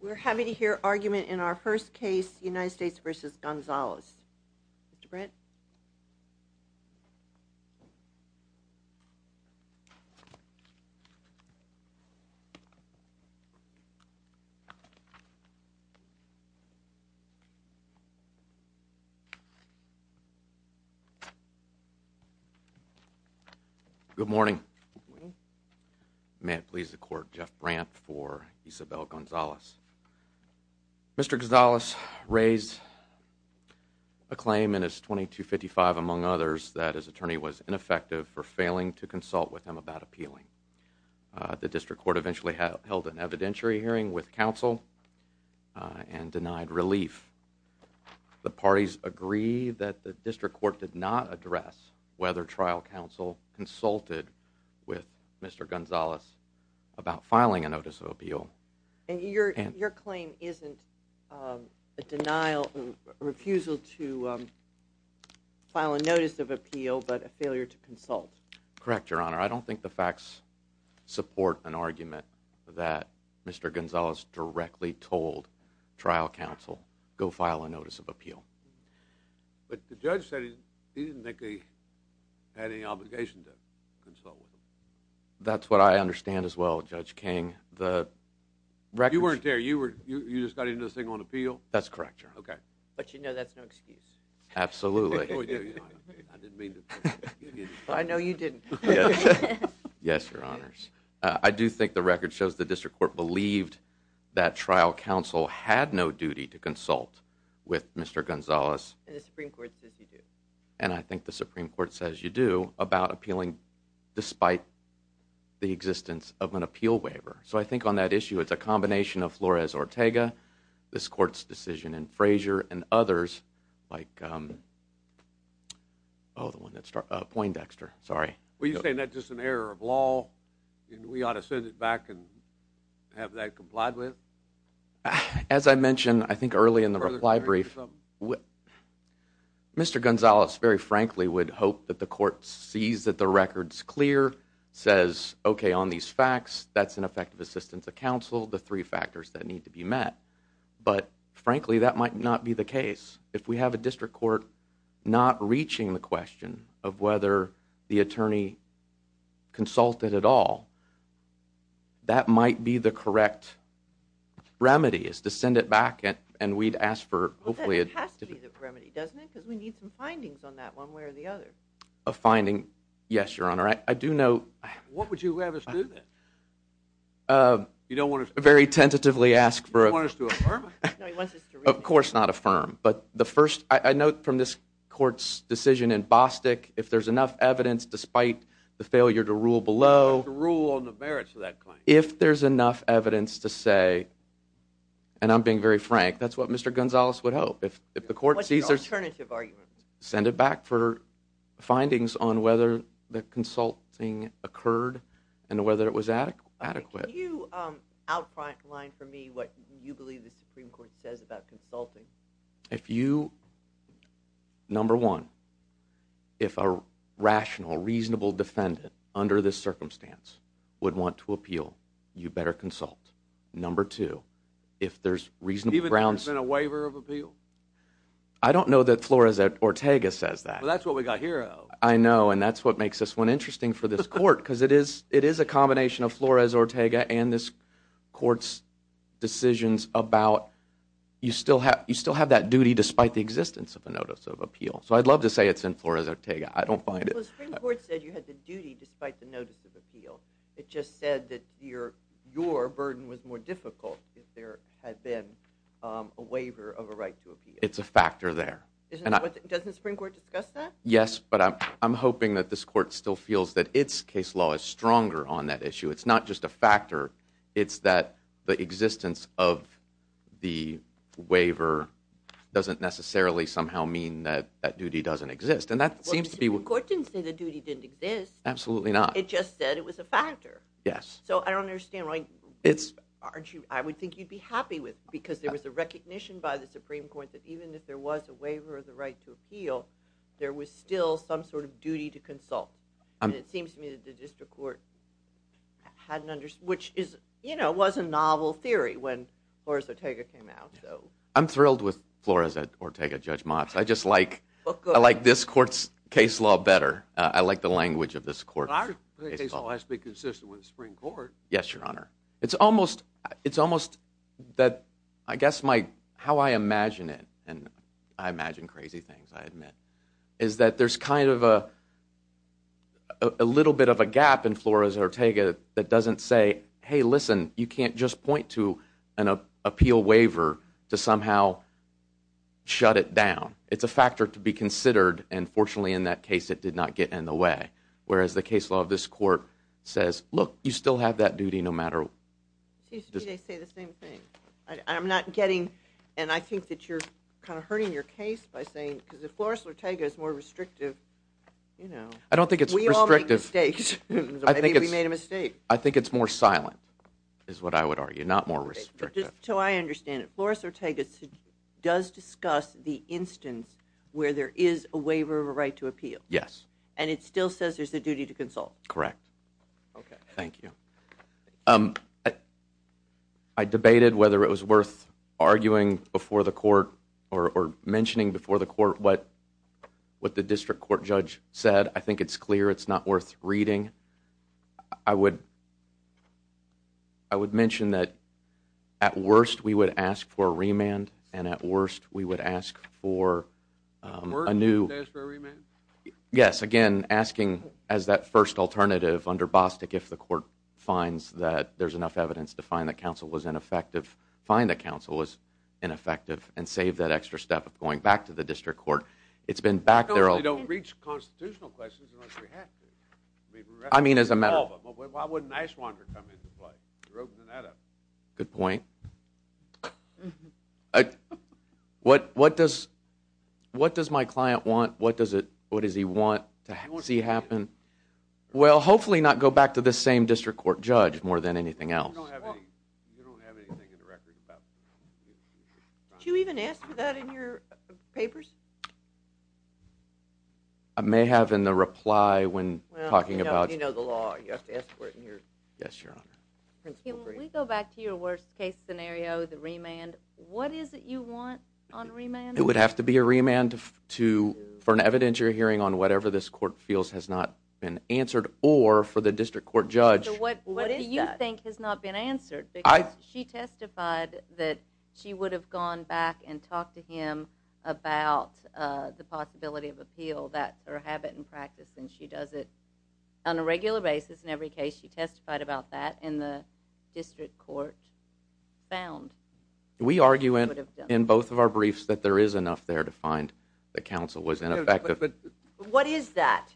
We're happy to hear argument in our first case, United States v. Gonzalez. Mr. Brett? Good morning. Good morning. May it please the court, Jeff Brandt for Isabel Gonzalez. Mr. Gonzalez raised a claim in his 2255, among others, that his attorney was ineffective for failing to consult with him about appealing. The district court eventually held an evidentiary hearing with counsel and denied relief. The parties agree that the district court did not address whether trial counsel consulted with Mr. Gonzalez about filing a notice of appeal. And your claim isn't a denial, a refusal to file a notice of appeal, but a failure to consult? Correct, Your Honor. I don't think the facts support an argument that Mr. Gonzalez directly told trial counsel, go file a notice of appeal. But the judge said he didn't think he had any obligation to consult with him. That's what I understand as well, Judge King. You weren't there. You just got into this thing on appeal? That's correct, Your Honor. But you know that's no excuse. Absolutely. I know you didn't. Yes, Your Honors. I do think the record shows the district court believed that trial counsel had no duty to consult with Mr. Gonzalez. And the Supreme Court says you do. And I think the Supreme Court says you do about appealing despite the existence of an appeal waiver. So I think on that issue it's a combination of Flores-Ortega, this court's decision in Frazier, and others like Poindexter. Are you saying that's just an error of law and we ought to send it back and have that complied with? As I mentioned I think early in the reply brief, Mr. Gonzalez very frankly would hope that the court sees that the record's clear, says, okay, on these facts that's an effective assistance of counsel, the three factors that need to be met. But frankly that might not be the case. If we have a district court not reaching the question of whether the attorney consulted at all, that might be the correct remedy is to send it back and we'd ask for hopefully a... Well, then it has to be the remedy, doesn't it? Because we need some findings on that one way or the other. A finding, yes, Your Honor. I do know... What would you have us do then? You don't want us to... Very tentatively ask for... You don't want us to affirm? No, he wants us to read it. Of course not affirm. But the first, I note from this court's decision in Bostick, if there's enough evidence despite the failure to rule below... To rule on the merits of that claim. If there's enough evidence to say, and I'm being very frank, that's what Mr. Gonzalez would hope. If the court sees there's... What's your alternative argument? Send it back for findings on whether the consulting occurred and whether it was adequate. Can you outline for me what you believe the Supreme Court says about consulting? If you, number one, if a rational, reasonable defendant under this circumstance would want to appeal, you better consult. Number two, if there's reasonable grounds... I don't know that Flores-Ortega says that. Well, that's what we got here. I know, and that's what makes this one interesting for this court, because it is a combination of Flores-Ortega and this court's decisions about... You still have that duty despite the existence of a notice of appeal. So I'd love to say it's in Flores-Ortega. I don't find it... Well, the Supreme Court said you had the duty despite the notice of appeal. It just said that your burden was more difficult if there had been a waiver of a right to appeal. It's a factor there. Doesn't the Supreme Court discuss that? Yes, but I'm hoping that this court still feels that its case law is stronger on that issue. It's not just a factor. It's that the existence of the waiver doesn't necessarily somehow mean that that duty doesn't exist, and that seems to be... Well, the Supreme Court didn't say the duty didn't exist. Absolutely not. It just said it was a factor. Yes. So I don't understand. I would think you'd be happy with it, because there was a recognition by the Supreme Court that even if there was a waiver of the right to appeal, there was still some sort of duty to consult. And it seems to me that the district court hadn't understood, which was a novel theory when Flores-Ortega came out. I'm thrilled with Flores-Ortega, Judge Motz. I just like this court's case law better. I like the language of this court. But our case law has to be consistent with the Supreme Court. Yes, Your Honor. It's almost that, I guess, how I imagine it, and I imagine crazy things, I admit, is that there's kind of a little bit of a gap in Flores-Ortega that doesn't say, hey, listen, you can't just point to an appeal waiver to somehow shut it down. It's a factor to be considered, and fortunately in that case it did not get in the way, whereas the case law of this court says, look, you still have that duty no matter what. It seems to me they say the same thing. I'm not getting, and I think that you're kind of hurting your case by saying, because if Flores-Ortega is more restrictive, you know, we all make mistakes. Maybe we made a mistake. I think it's more silent, is what I would argue, not more restrictive. Just so I understand it, Flores-Ortega does discuss the instance where there is a waiver of a right to appeal? Yes. And it still says there's a duty to consult? Correct. Okay. Thank you. I debated whether it was worth arguing before the court or mentioning before the court what the district court judge said. I think it's clear it's not worth reading. I would mention that at worst we would ask for a remand, and at worst we would ask for a new- At worst we would ask for a remand? Yes. Again, asking as that first alternative under Bostick if the court finds that there's enough evidence to find that counsel was ineffective, find that counsel was ineffective, and save that extra step of going back to the district court. It's been back there- We reach constitutional questions unless we have to. I mean, as a matter of- Why wouldn't an ice wanderer come into play? You're opening that up. Good point. What does my client want? What does he want to see happen? Well, hopefully not go back to this same district court judge more than anything else. You don't have anything in the record about- Did you even ask for that in your papers? I may have in the reply when talking about- You know the law. You have to ask for it in your- Yes, Your Honor. Can we go back to your worst case scenario, the remand? What is it you want on remand? It would have to be a remand for an evidentiary hearing on whatever this court feels has not been answered or for the district court judge- What do you think has not been answered? Because she testified that she would have gone back and talked to him about the possibility of appeal. That's her habit and practice, and she does it on a regular basis in every case. She testified about that, and the district court found- We argue in both of our briefs that there is enough there to find the counsel was ineffective. What is that?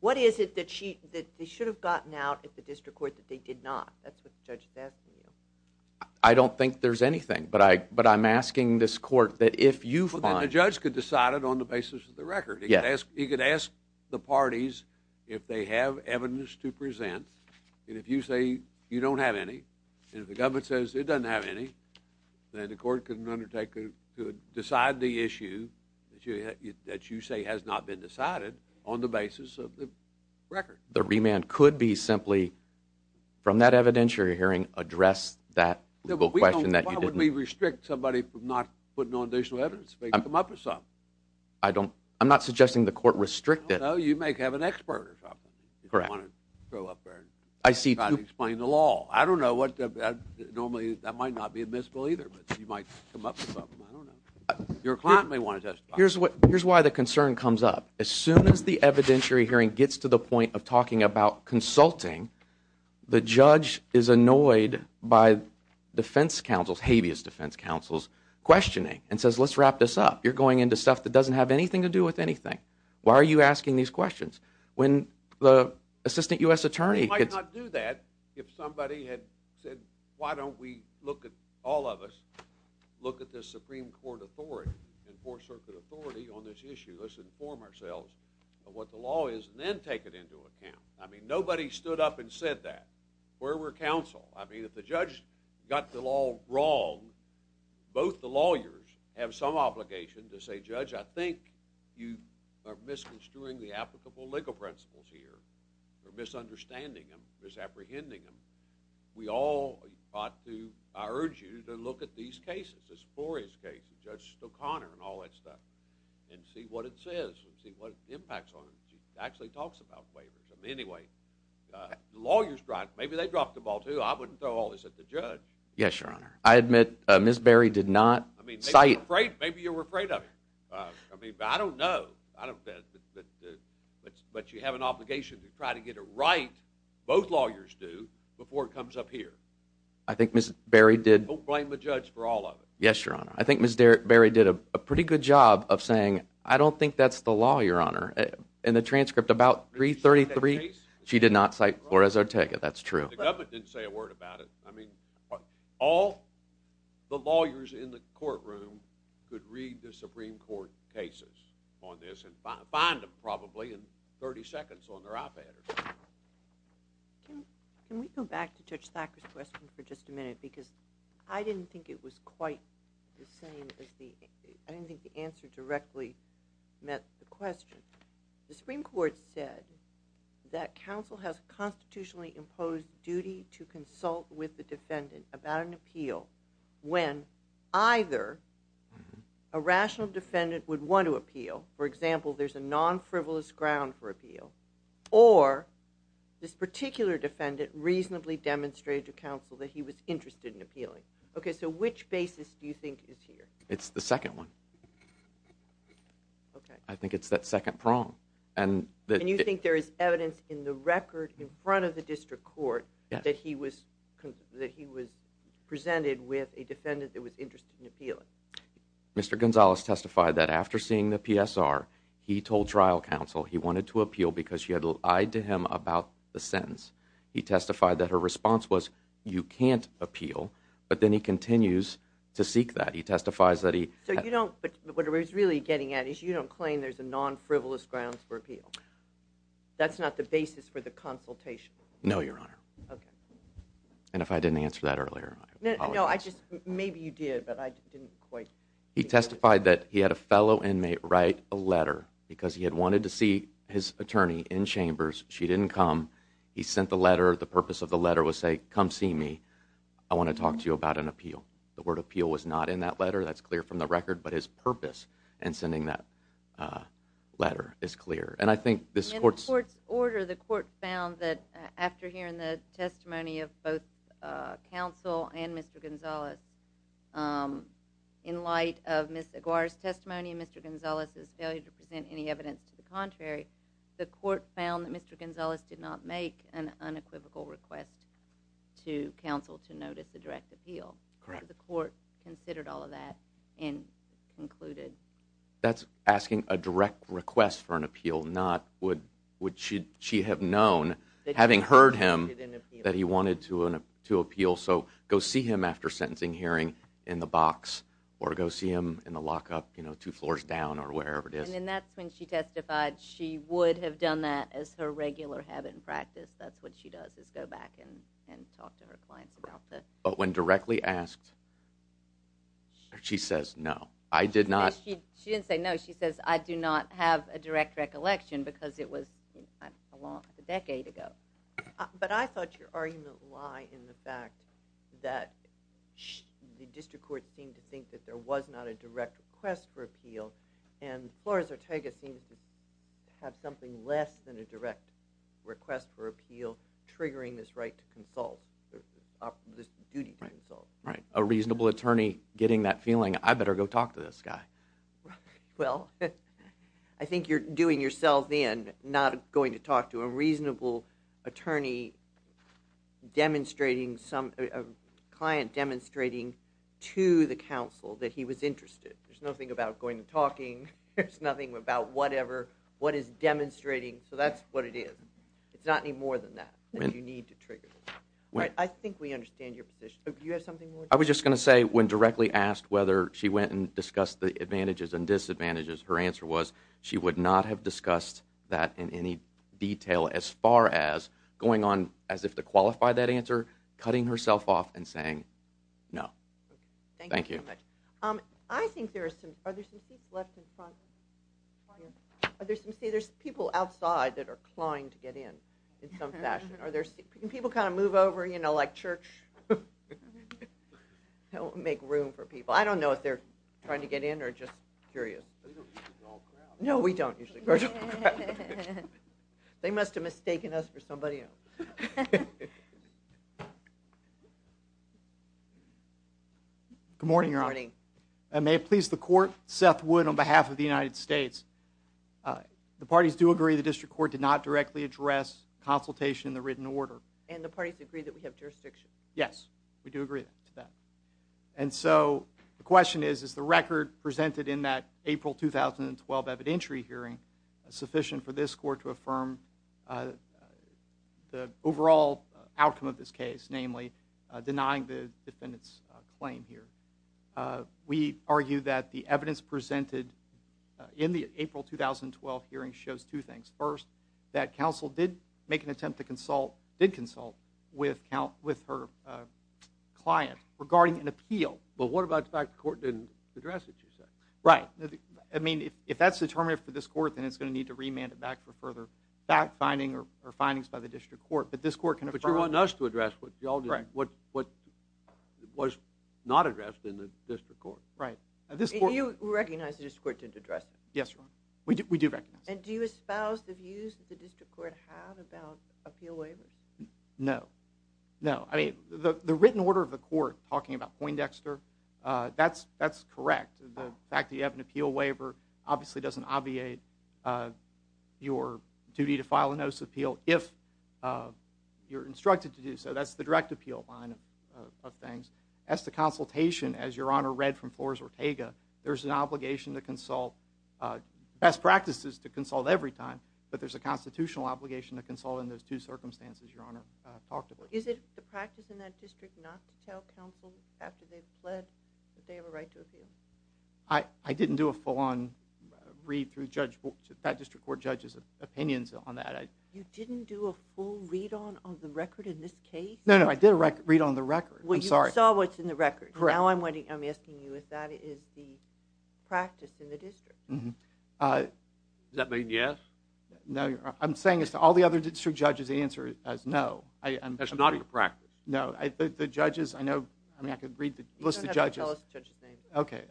What is it that they should have gotten out at the district court that they did not? That's what the judge is asking you. I don't think there's anything, but I'm asking this court that if you find- Well, then the judge could decide it on the basis of the record. He could ask the parties if they have evidence to present, and if you say you don't have any, and if the government says it doesn't have any, then the court could decide the issue that you say has not been decided on the basis of the record. The remand could be simply, from that evidentiary hearing, address that question that you didn't- Why would we restrict somebody from not putting on additional evidence if they could come up with some? I'm not suggesting the court restrict it. No, you may have an expert or something. Correct. If you want to throw up there and try to explain the law. I don't know what- Normally, that might not be admissible either, but you might come up with something. I don't know. Your client may want to testify. Here's why the concern comes up. As soon as the evidentiary hearing gets to the point of talking about consulting, the judge is annoyed by defense counsels, habeas defense counsels, questioning and says, let's wrap this up. You're going into stuff that doesn't have anything to do with anything. Why are you asking these questions? When the assistant U.S. attorney- We might not do that if somebody had said, why don't we look at- all of us- look at the Supreme Court authority and Fourth Circuit authority on this issue. Let's inform ourselves of what the law is and then take it into account. I mean, nobody stood up and said that. Where were counsel? I mean, if the judge got the law wrong, both the lawyers have some obligation to say, Judge, I think you are misconstruing the applicable legal principles here. You're misunderstanding them. You're misapprehending them. We all ought to- I urge you to look at these cases, this glorious case of Judge O'Connor and all that stuff and see what it says and see what impacts on it. She actually talks about waivers. I mean, anyway, the lawyers dropped- maybe they dropped the ball, too. I wouldn't throw all this at the judge. Yes, Your Honor. I admit Ms. Berry did not cite- I mean, maybe you were afraid of her. I mean, I don't know. I don't- but you have an obligation to try to get it right, both lawyers do, before it comes up here. I think Ms. Berry did- Don't blame the judge for all of it. Yes, Your Honor. I think Ms. Berry did a pretty good job of saying, I don't think that's the law, Your Honor. In the transcript, about 333, she did not cite Flores Ortega. That's true. The government didn't say a word about it. I mean, all the lawyers in the courtroom could read the Supreme Court cases on this and find them, probably, in 30 seconds on their iPads. Can we go back to Judge Thacker's question for just a minute? Because I didn't think it was quite the same as the- I didn't think the answer directly met the question. The Supreme Court said that counsel has a constitutionally imposed duty to consult with the defendant about an appeal when either a rational defendant would want to appeal- for example, there's a non-frivolous ground for appeal- or this particular defendant reasonably demonstrated to counsel that he was interested in appealing. Okay, so which basis do you think is here? It's the second one. I think it's that second prong. And you think there is evidence in the record in front of the district court that he was presented with a defendant that was interested in appealing? Mr. Gonzalez testified that after seeing the PSR, he told trial counsel he wanted to appeal because she had lied to him about the sentence. He testified that her response was, you can't appeal, but then he continues to seek that. He testifies that he- So you don't- what I was really getting at is you don't claim there's a non-frivolous grounds for appeal. That's not the basis for the consultation. No, Your Honor. Okay. And if I didn't answer that earlier, I apologize. No, I just- maybe you did, but I didn't quite- He testified that he had a fellow inmate write a letter because he had wanted to see his attorney in chambers. She didn't come. He sent the letter. The purpose of the letter was say, come see me. I want to talk to you about an appeal. The word appeal was not in that letter. That's clear from the record, but his purpose in sending that letter is clear. And I think this court's- In the court's order, the court found that after hearing the testimony of both counsel and Mr. Gonzalez, in light of Ms. Aguirre's testimony and Mr. Gonzalez's failure to present any evidence to the contrary, the court found that Mr. Gonzalez did not make an unequivocal request to counsel to notice a direct appeal. The court considered all of that and concluded- That's asking a direct request for an appeal, not would she have known, having heard him, that he wanted to appeal, so go see him after sentencing hearing in the box or go see him in the lockup two floors down or wherever it is. And that's when she testified she would have done that as her regular habit and practice. That's what she does is go back and talk to her clients about that. But when directly asked, she says, no, I did not- She didn't say no. She says, I do not have a direct recollection because it was a decade ago. But I thought your argument lied in the fact that the district court seemed to think that there was not a direct request for appeal and Flores Ortega seems to have something less than a direct request for appeal triggering this right to consult, this duty to consult. Right. A reasonable attorney getting that feeling, I better go talk to this guy. Well, I think you're doing yourself in, not going to talk to a reasonable attorney demonstrating some- a client demonstrating to the counsel that he was interested. There's nothing about going and talking. There's nothing about whatever, what is demonstrating. So that's what it is. It's not any more than that. And you need to trigger this. I think we understand your position. Do you have something more? I was just going to say when directly asked whether she went and discussed the advantages and disadvantages, her answer was she would not have discussed that in any detail as far as going on as if to qualify that answer, cutting herself off and saying no. Thank you. Thank you very much. I think there are some- are there some seats left in front? Are there some- there's people outside that are clawing to get in in some fashion. Are there- can people kind of move over, you know, like church? That will make room for people. I don't know if they're trying to get in or just curious. They don't usually crawl crowd. No, we don't usually crawl crowd. They must have mistaken us for somebody else. Okay. Good morning, Your Honor. Good morning. May it please the court. Seth Wood on behalf of the United States. The parties do agree the district court did not directly address consultation in the written order. And the parties agree that we have jurisdiction. Yes, we do agree to that. And so the question is, is the record presented in that April 2012 evidentiary hearing sufficient for this court to affirm the overall outcome of this case, namely denying the defendant's claim here? We argue that the evidence presented in the April 2012 hearing shows two things. First, that counsel did make an attempt to consult- did consult with her client regarding an appeal. But what about the fact the court didn't address it, you said? Right. I mean, if that's determinative for this court, then it's going to need to remand it back for further fact finding or findings by the district court. But this court can affirm- But you want us to address what was not addressed in the district court. Right. You recognize the district court didn't address it? Yes, Your Honor. We do recognize it. And do you espouse the views that the district court had about appeal waivers? No. No. I mean, the written order of the court talking about Poindexter, that's correct. The fact that you have an appeal waiver obviously doesn't obviate your duty to file a notice of appeal if you're instructed to do so. That's the direct appeal line of things. As to consultation, as Your Honor read from Flores Ortega, there's an obligation to consult- best practices to consult every time, but there's a constitutional obligation to consult in those two circumstances Your Honor talked about. Is it the practice in that district not to tell counsel after they've fled that they have a right to appeal? I didn't do a full on read through that district court judge's opinions on that. You didn't do a full read on the record in this case? No, no. I did a read on the record. I'm sorry. Well, you saw what's in the record. Correct. Now I'm asking you if that is the practice in the district. Does that mean yes? No, Your Honor. I'm saying as to all the other district judges the answer is no. That's not in the practice. No. You don't have to tell us the judge's name. Okay.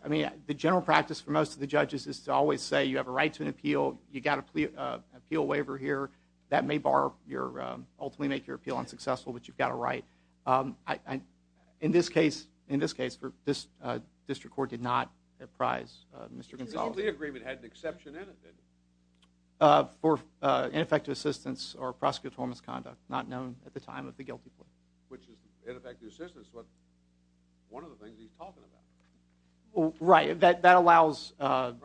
The general practice for most of the judges is to always say you have a right to an appeal. You got an appeal waiver here. That may ultimately make your appeal unsuccessful, but you've got a right. In this case, this district court did not apprise Mr. Gonzales. This plea agreement had an exception in it then. For ineffective assistance or prosecutorial misconduct not known at the time of the guilty plea. Which is ineffective assistance, one of the things he's talking about. Right. That allows the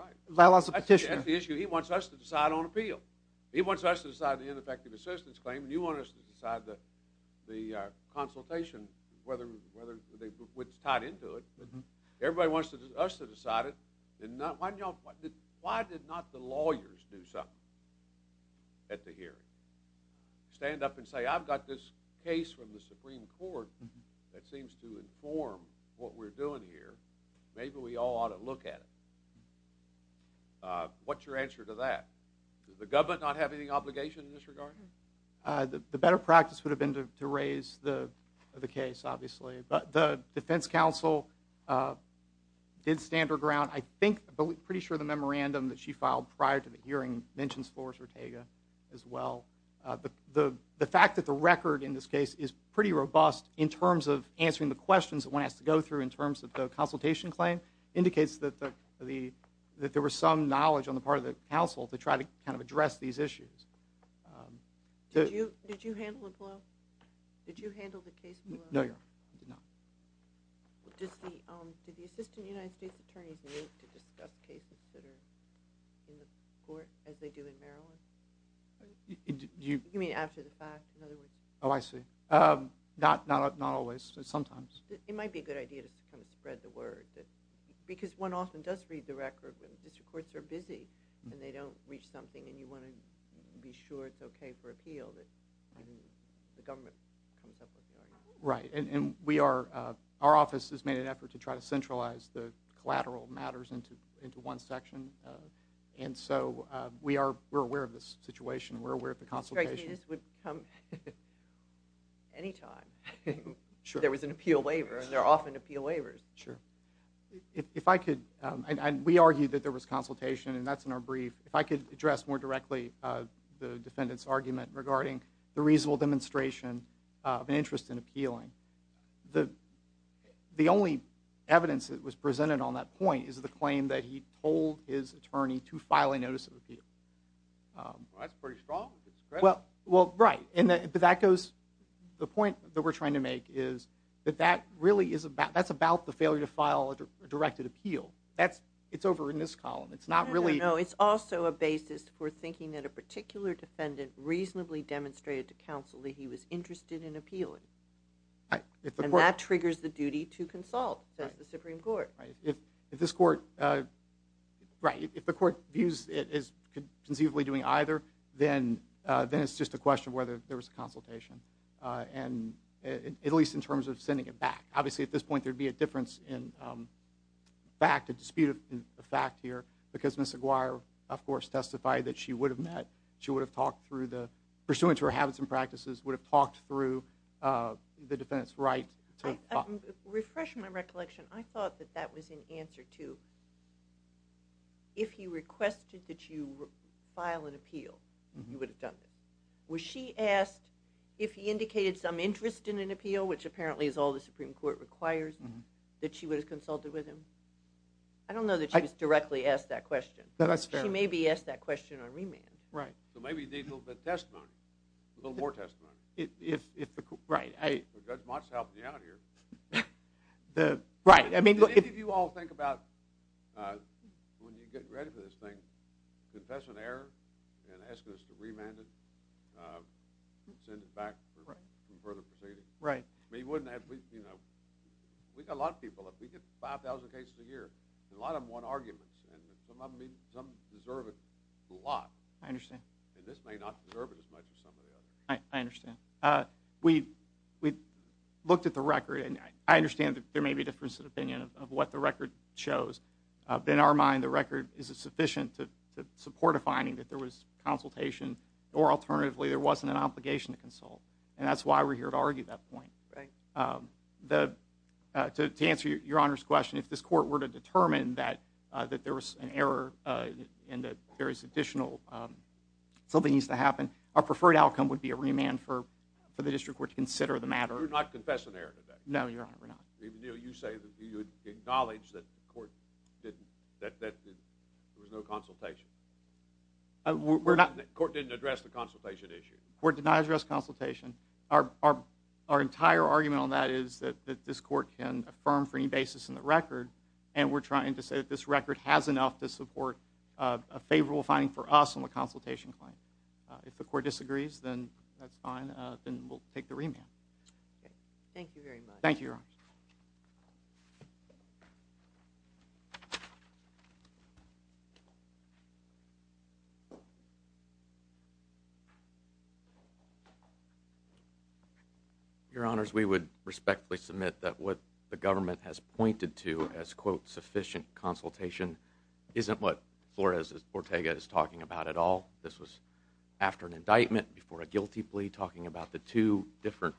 petitioner. That's the issue. He wants us to decide on appeal. He wants us to decide the ineffective assistance claim, and you want us to decide the consultation, whether it's tied into it. Why did not the lawyers do something at the hearing? Stand up and say, I've got this case from the Supreme Court that seems to inform what we're doing here. Maybe we all ought to look at it. What's your answer to that? Does the government not have any obligation in this regard? The better practice would have been to raise the case, obviously. But the defense counsel did stand her ground. I think, I'm pretty sure the memorandum that she filed prior to the hearing mentions Flores-Ortega as well. The fact that the record in this case is pretty robust in terms of answering the questions that one has to go through in terms of the consultation claim indicates that there was some knowledge on the part of the counsel to try to kind of address these issues. Did you handle the case below? No, Your Honor, I did not. Did the Assistant United States Attorneys meet to discuss cases that are in the court as they do in Maryland? You mean after the fact, in other words? Oh, I see. Not always, but sometimes. It might be a good idea to kind of spread the word. Because one often does read the record, but the district courts are busy and they don't reach something, and you want to be sure it's okay for appeal that the government comes up with the argument. Right. And we are – our office has made an effort to try to centralize the collateral matters into one section. And so we are aware of this situation. We're aware of the consultation. This would come any time. Sure. There was an appeal waiver, and there are often appeal waivers. Sure. If I could – and we argued that there was consultation, and that's in our brief. If I could address more directly the defendant's argument regarding the appealing, the only evidence that was presented on that point is the claim that he told his attorney to file a notice of appeal. Well, that's pretty strong. Well, right. But that goes – the point that we're trying to make is that that really is about – that's about the failure to file a directed appeal. That's – it's over in this column. It's not really – No, no, no. It's also a basis for thinking that a particular defendant reasonably demonstrated to counsel that he was interested in appealing. And that triggers the duty to consult, says the Supreme Court. Right. If this court – right. If the court views it as conceivably doing either, then it's just a question of whether there was a consultation, at least in terms of sending it back. Obviously, at this point there would be a difference in fact, a dispute of fact here because Ms. Aguirre, of course, testified that she would have met, through the – pursuant to her habits and practices, would have talked through the defendant's right to talk. Refresh my recollection. I thought that that was in answer to if he requested that you file an appeal, you would have done it. Was she asked if he indicated some interest in an appeal, which apparently is all the Supreme Court requires, that she would have consulted with him? I don't know that she was directly asked that question. That's fair. She may be asked that question on remand. Right. So maybe you need a little bit of testimony, a little more testimony. Right. Judge Mott's helping you out here. Right. Did any of you all think about when you get ready for this thing, confess an error and ask us to remand it and send it back for further proceeding? Right. We wouldn't have – we've got a lot of people. We get 5,000 cases a year. A lot of them want arguments, and some deserve it a lot. I understand. And this may not deserve it as much as some of the others. I understand. We looked at the record, and I understand that there may be a difference of opinion of what the record shows. In our mind, the record is sufficient to support a finding that there was consultation, or alternatively there wasn't an obligation to consult, and that's why we're here to argue that point. Right. To answer Your Honor's question, if this court were to determine that there was an error and that there is additional – something needs to happen, our preferred outcome would be a remand for the district court to consider the matter. You're not confessing an error today. No, Your Honor, we're not. Even though you say that you acknowledge that the court didn't – that there was no consultation. We're not – The court didn't address the consultation issue. The court did not address consultation. Our entire argument on that is that this court can affirm for any basis in the record, and we're trying to say that this record has enough to support a favorable finding for us on the consultation claim. If the court disagrees, then that's fine. Then we'll take the remand. Thank you, Your Honor. Your Honors, we would respectfully submit that what the government has pointed to as, quote, sufficient consultation isn't what Flores-Bortega is talking about at all. This was after an indictment, before a guilty plea, talking about the two different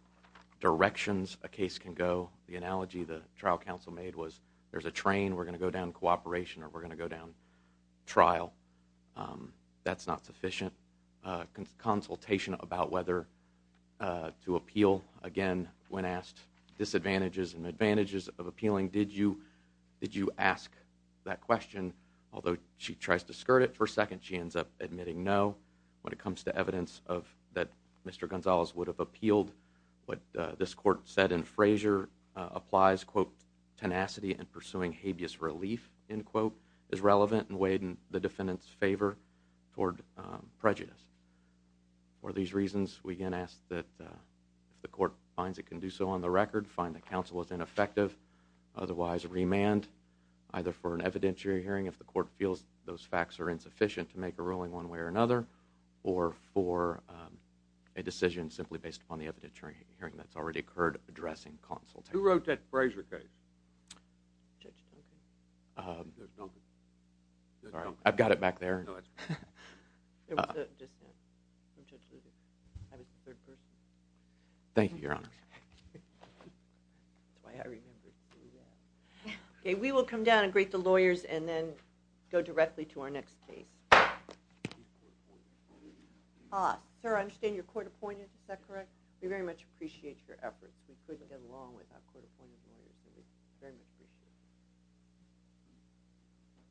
directions a case can go. The analogy the trial counsel made was there's a train, we're going to go down cooperation or we're going to go down trial. That's not sufficient consultation about whether to appeal. Again, when asked disadvantages and advantages of appealing, did you ask that question? Although she tries to skirt it for a second, she ends up admitting no. When it comes to evidence that Mr. Gonzales would have appealed, what this court said in Frazier applies, quote, tenacity in pursuing habeas relief, end quote, is relevant and weighed in the defendant's favor toward prejudice. For these reasons, we again ask that if the court finds it can do so on the record, find the counsel as ineffective, otherwise remand, either for an evidentiary hearing if the court feels those facts are insufficient to make a ruling one way or another, or for a decision simply based upon the evidentiary hearing that's already occurred addressing consultation. Who wrote that Frazier case? Judge Duncan. Sorry, I've got it back there. Thank you, Your Honor. Okay, we will come down and greet the lawyers and then go directly to our next case. Sir, I understand you're court appointed, is that correct? We very much appreciate your efforts. We couldn't get along without court appointed lawyers. We very much appreciate it.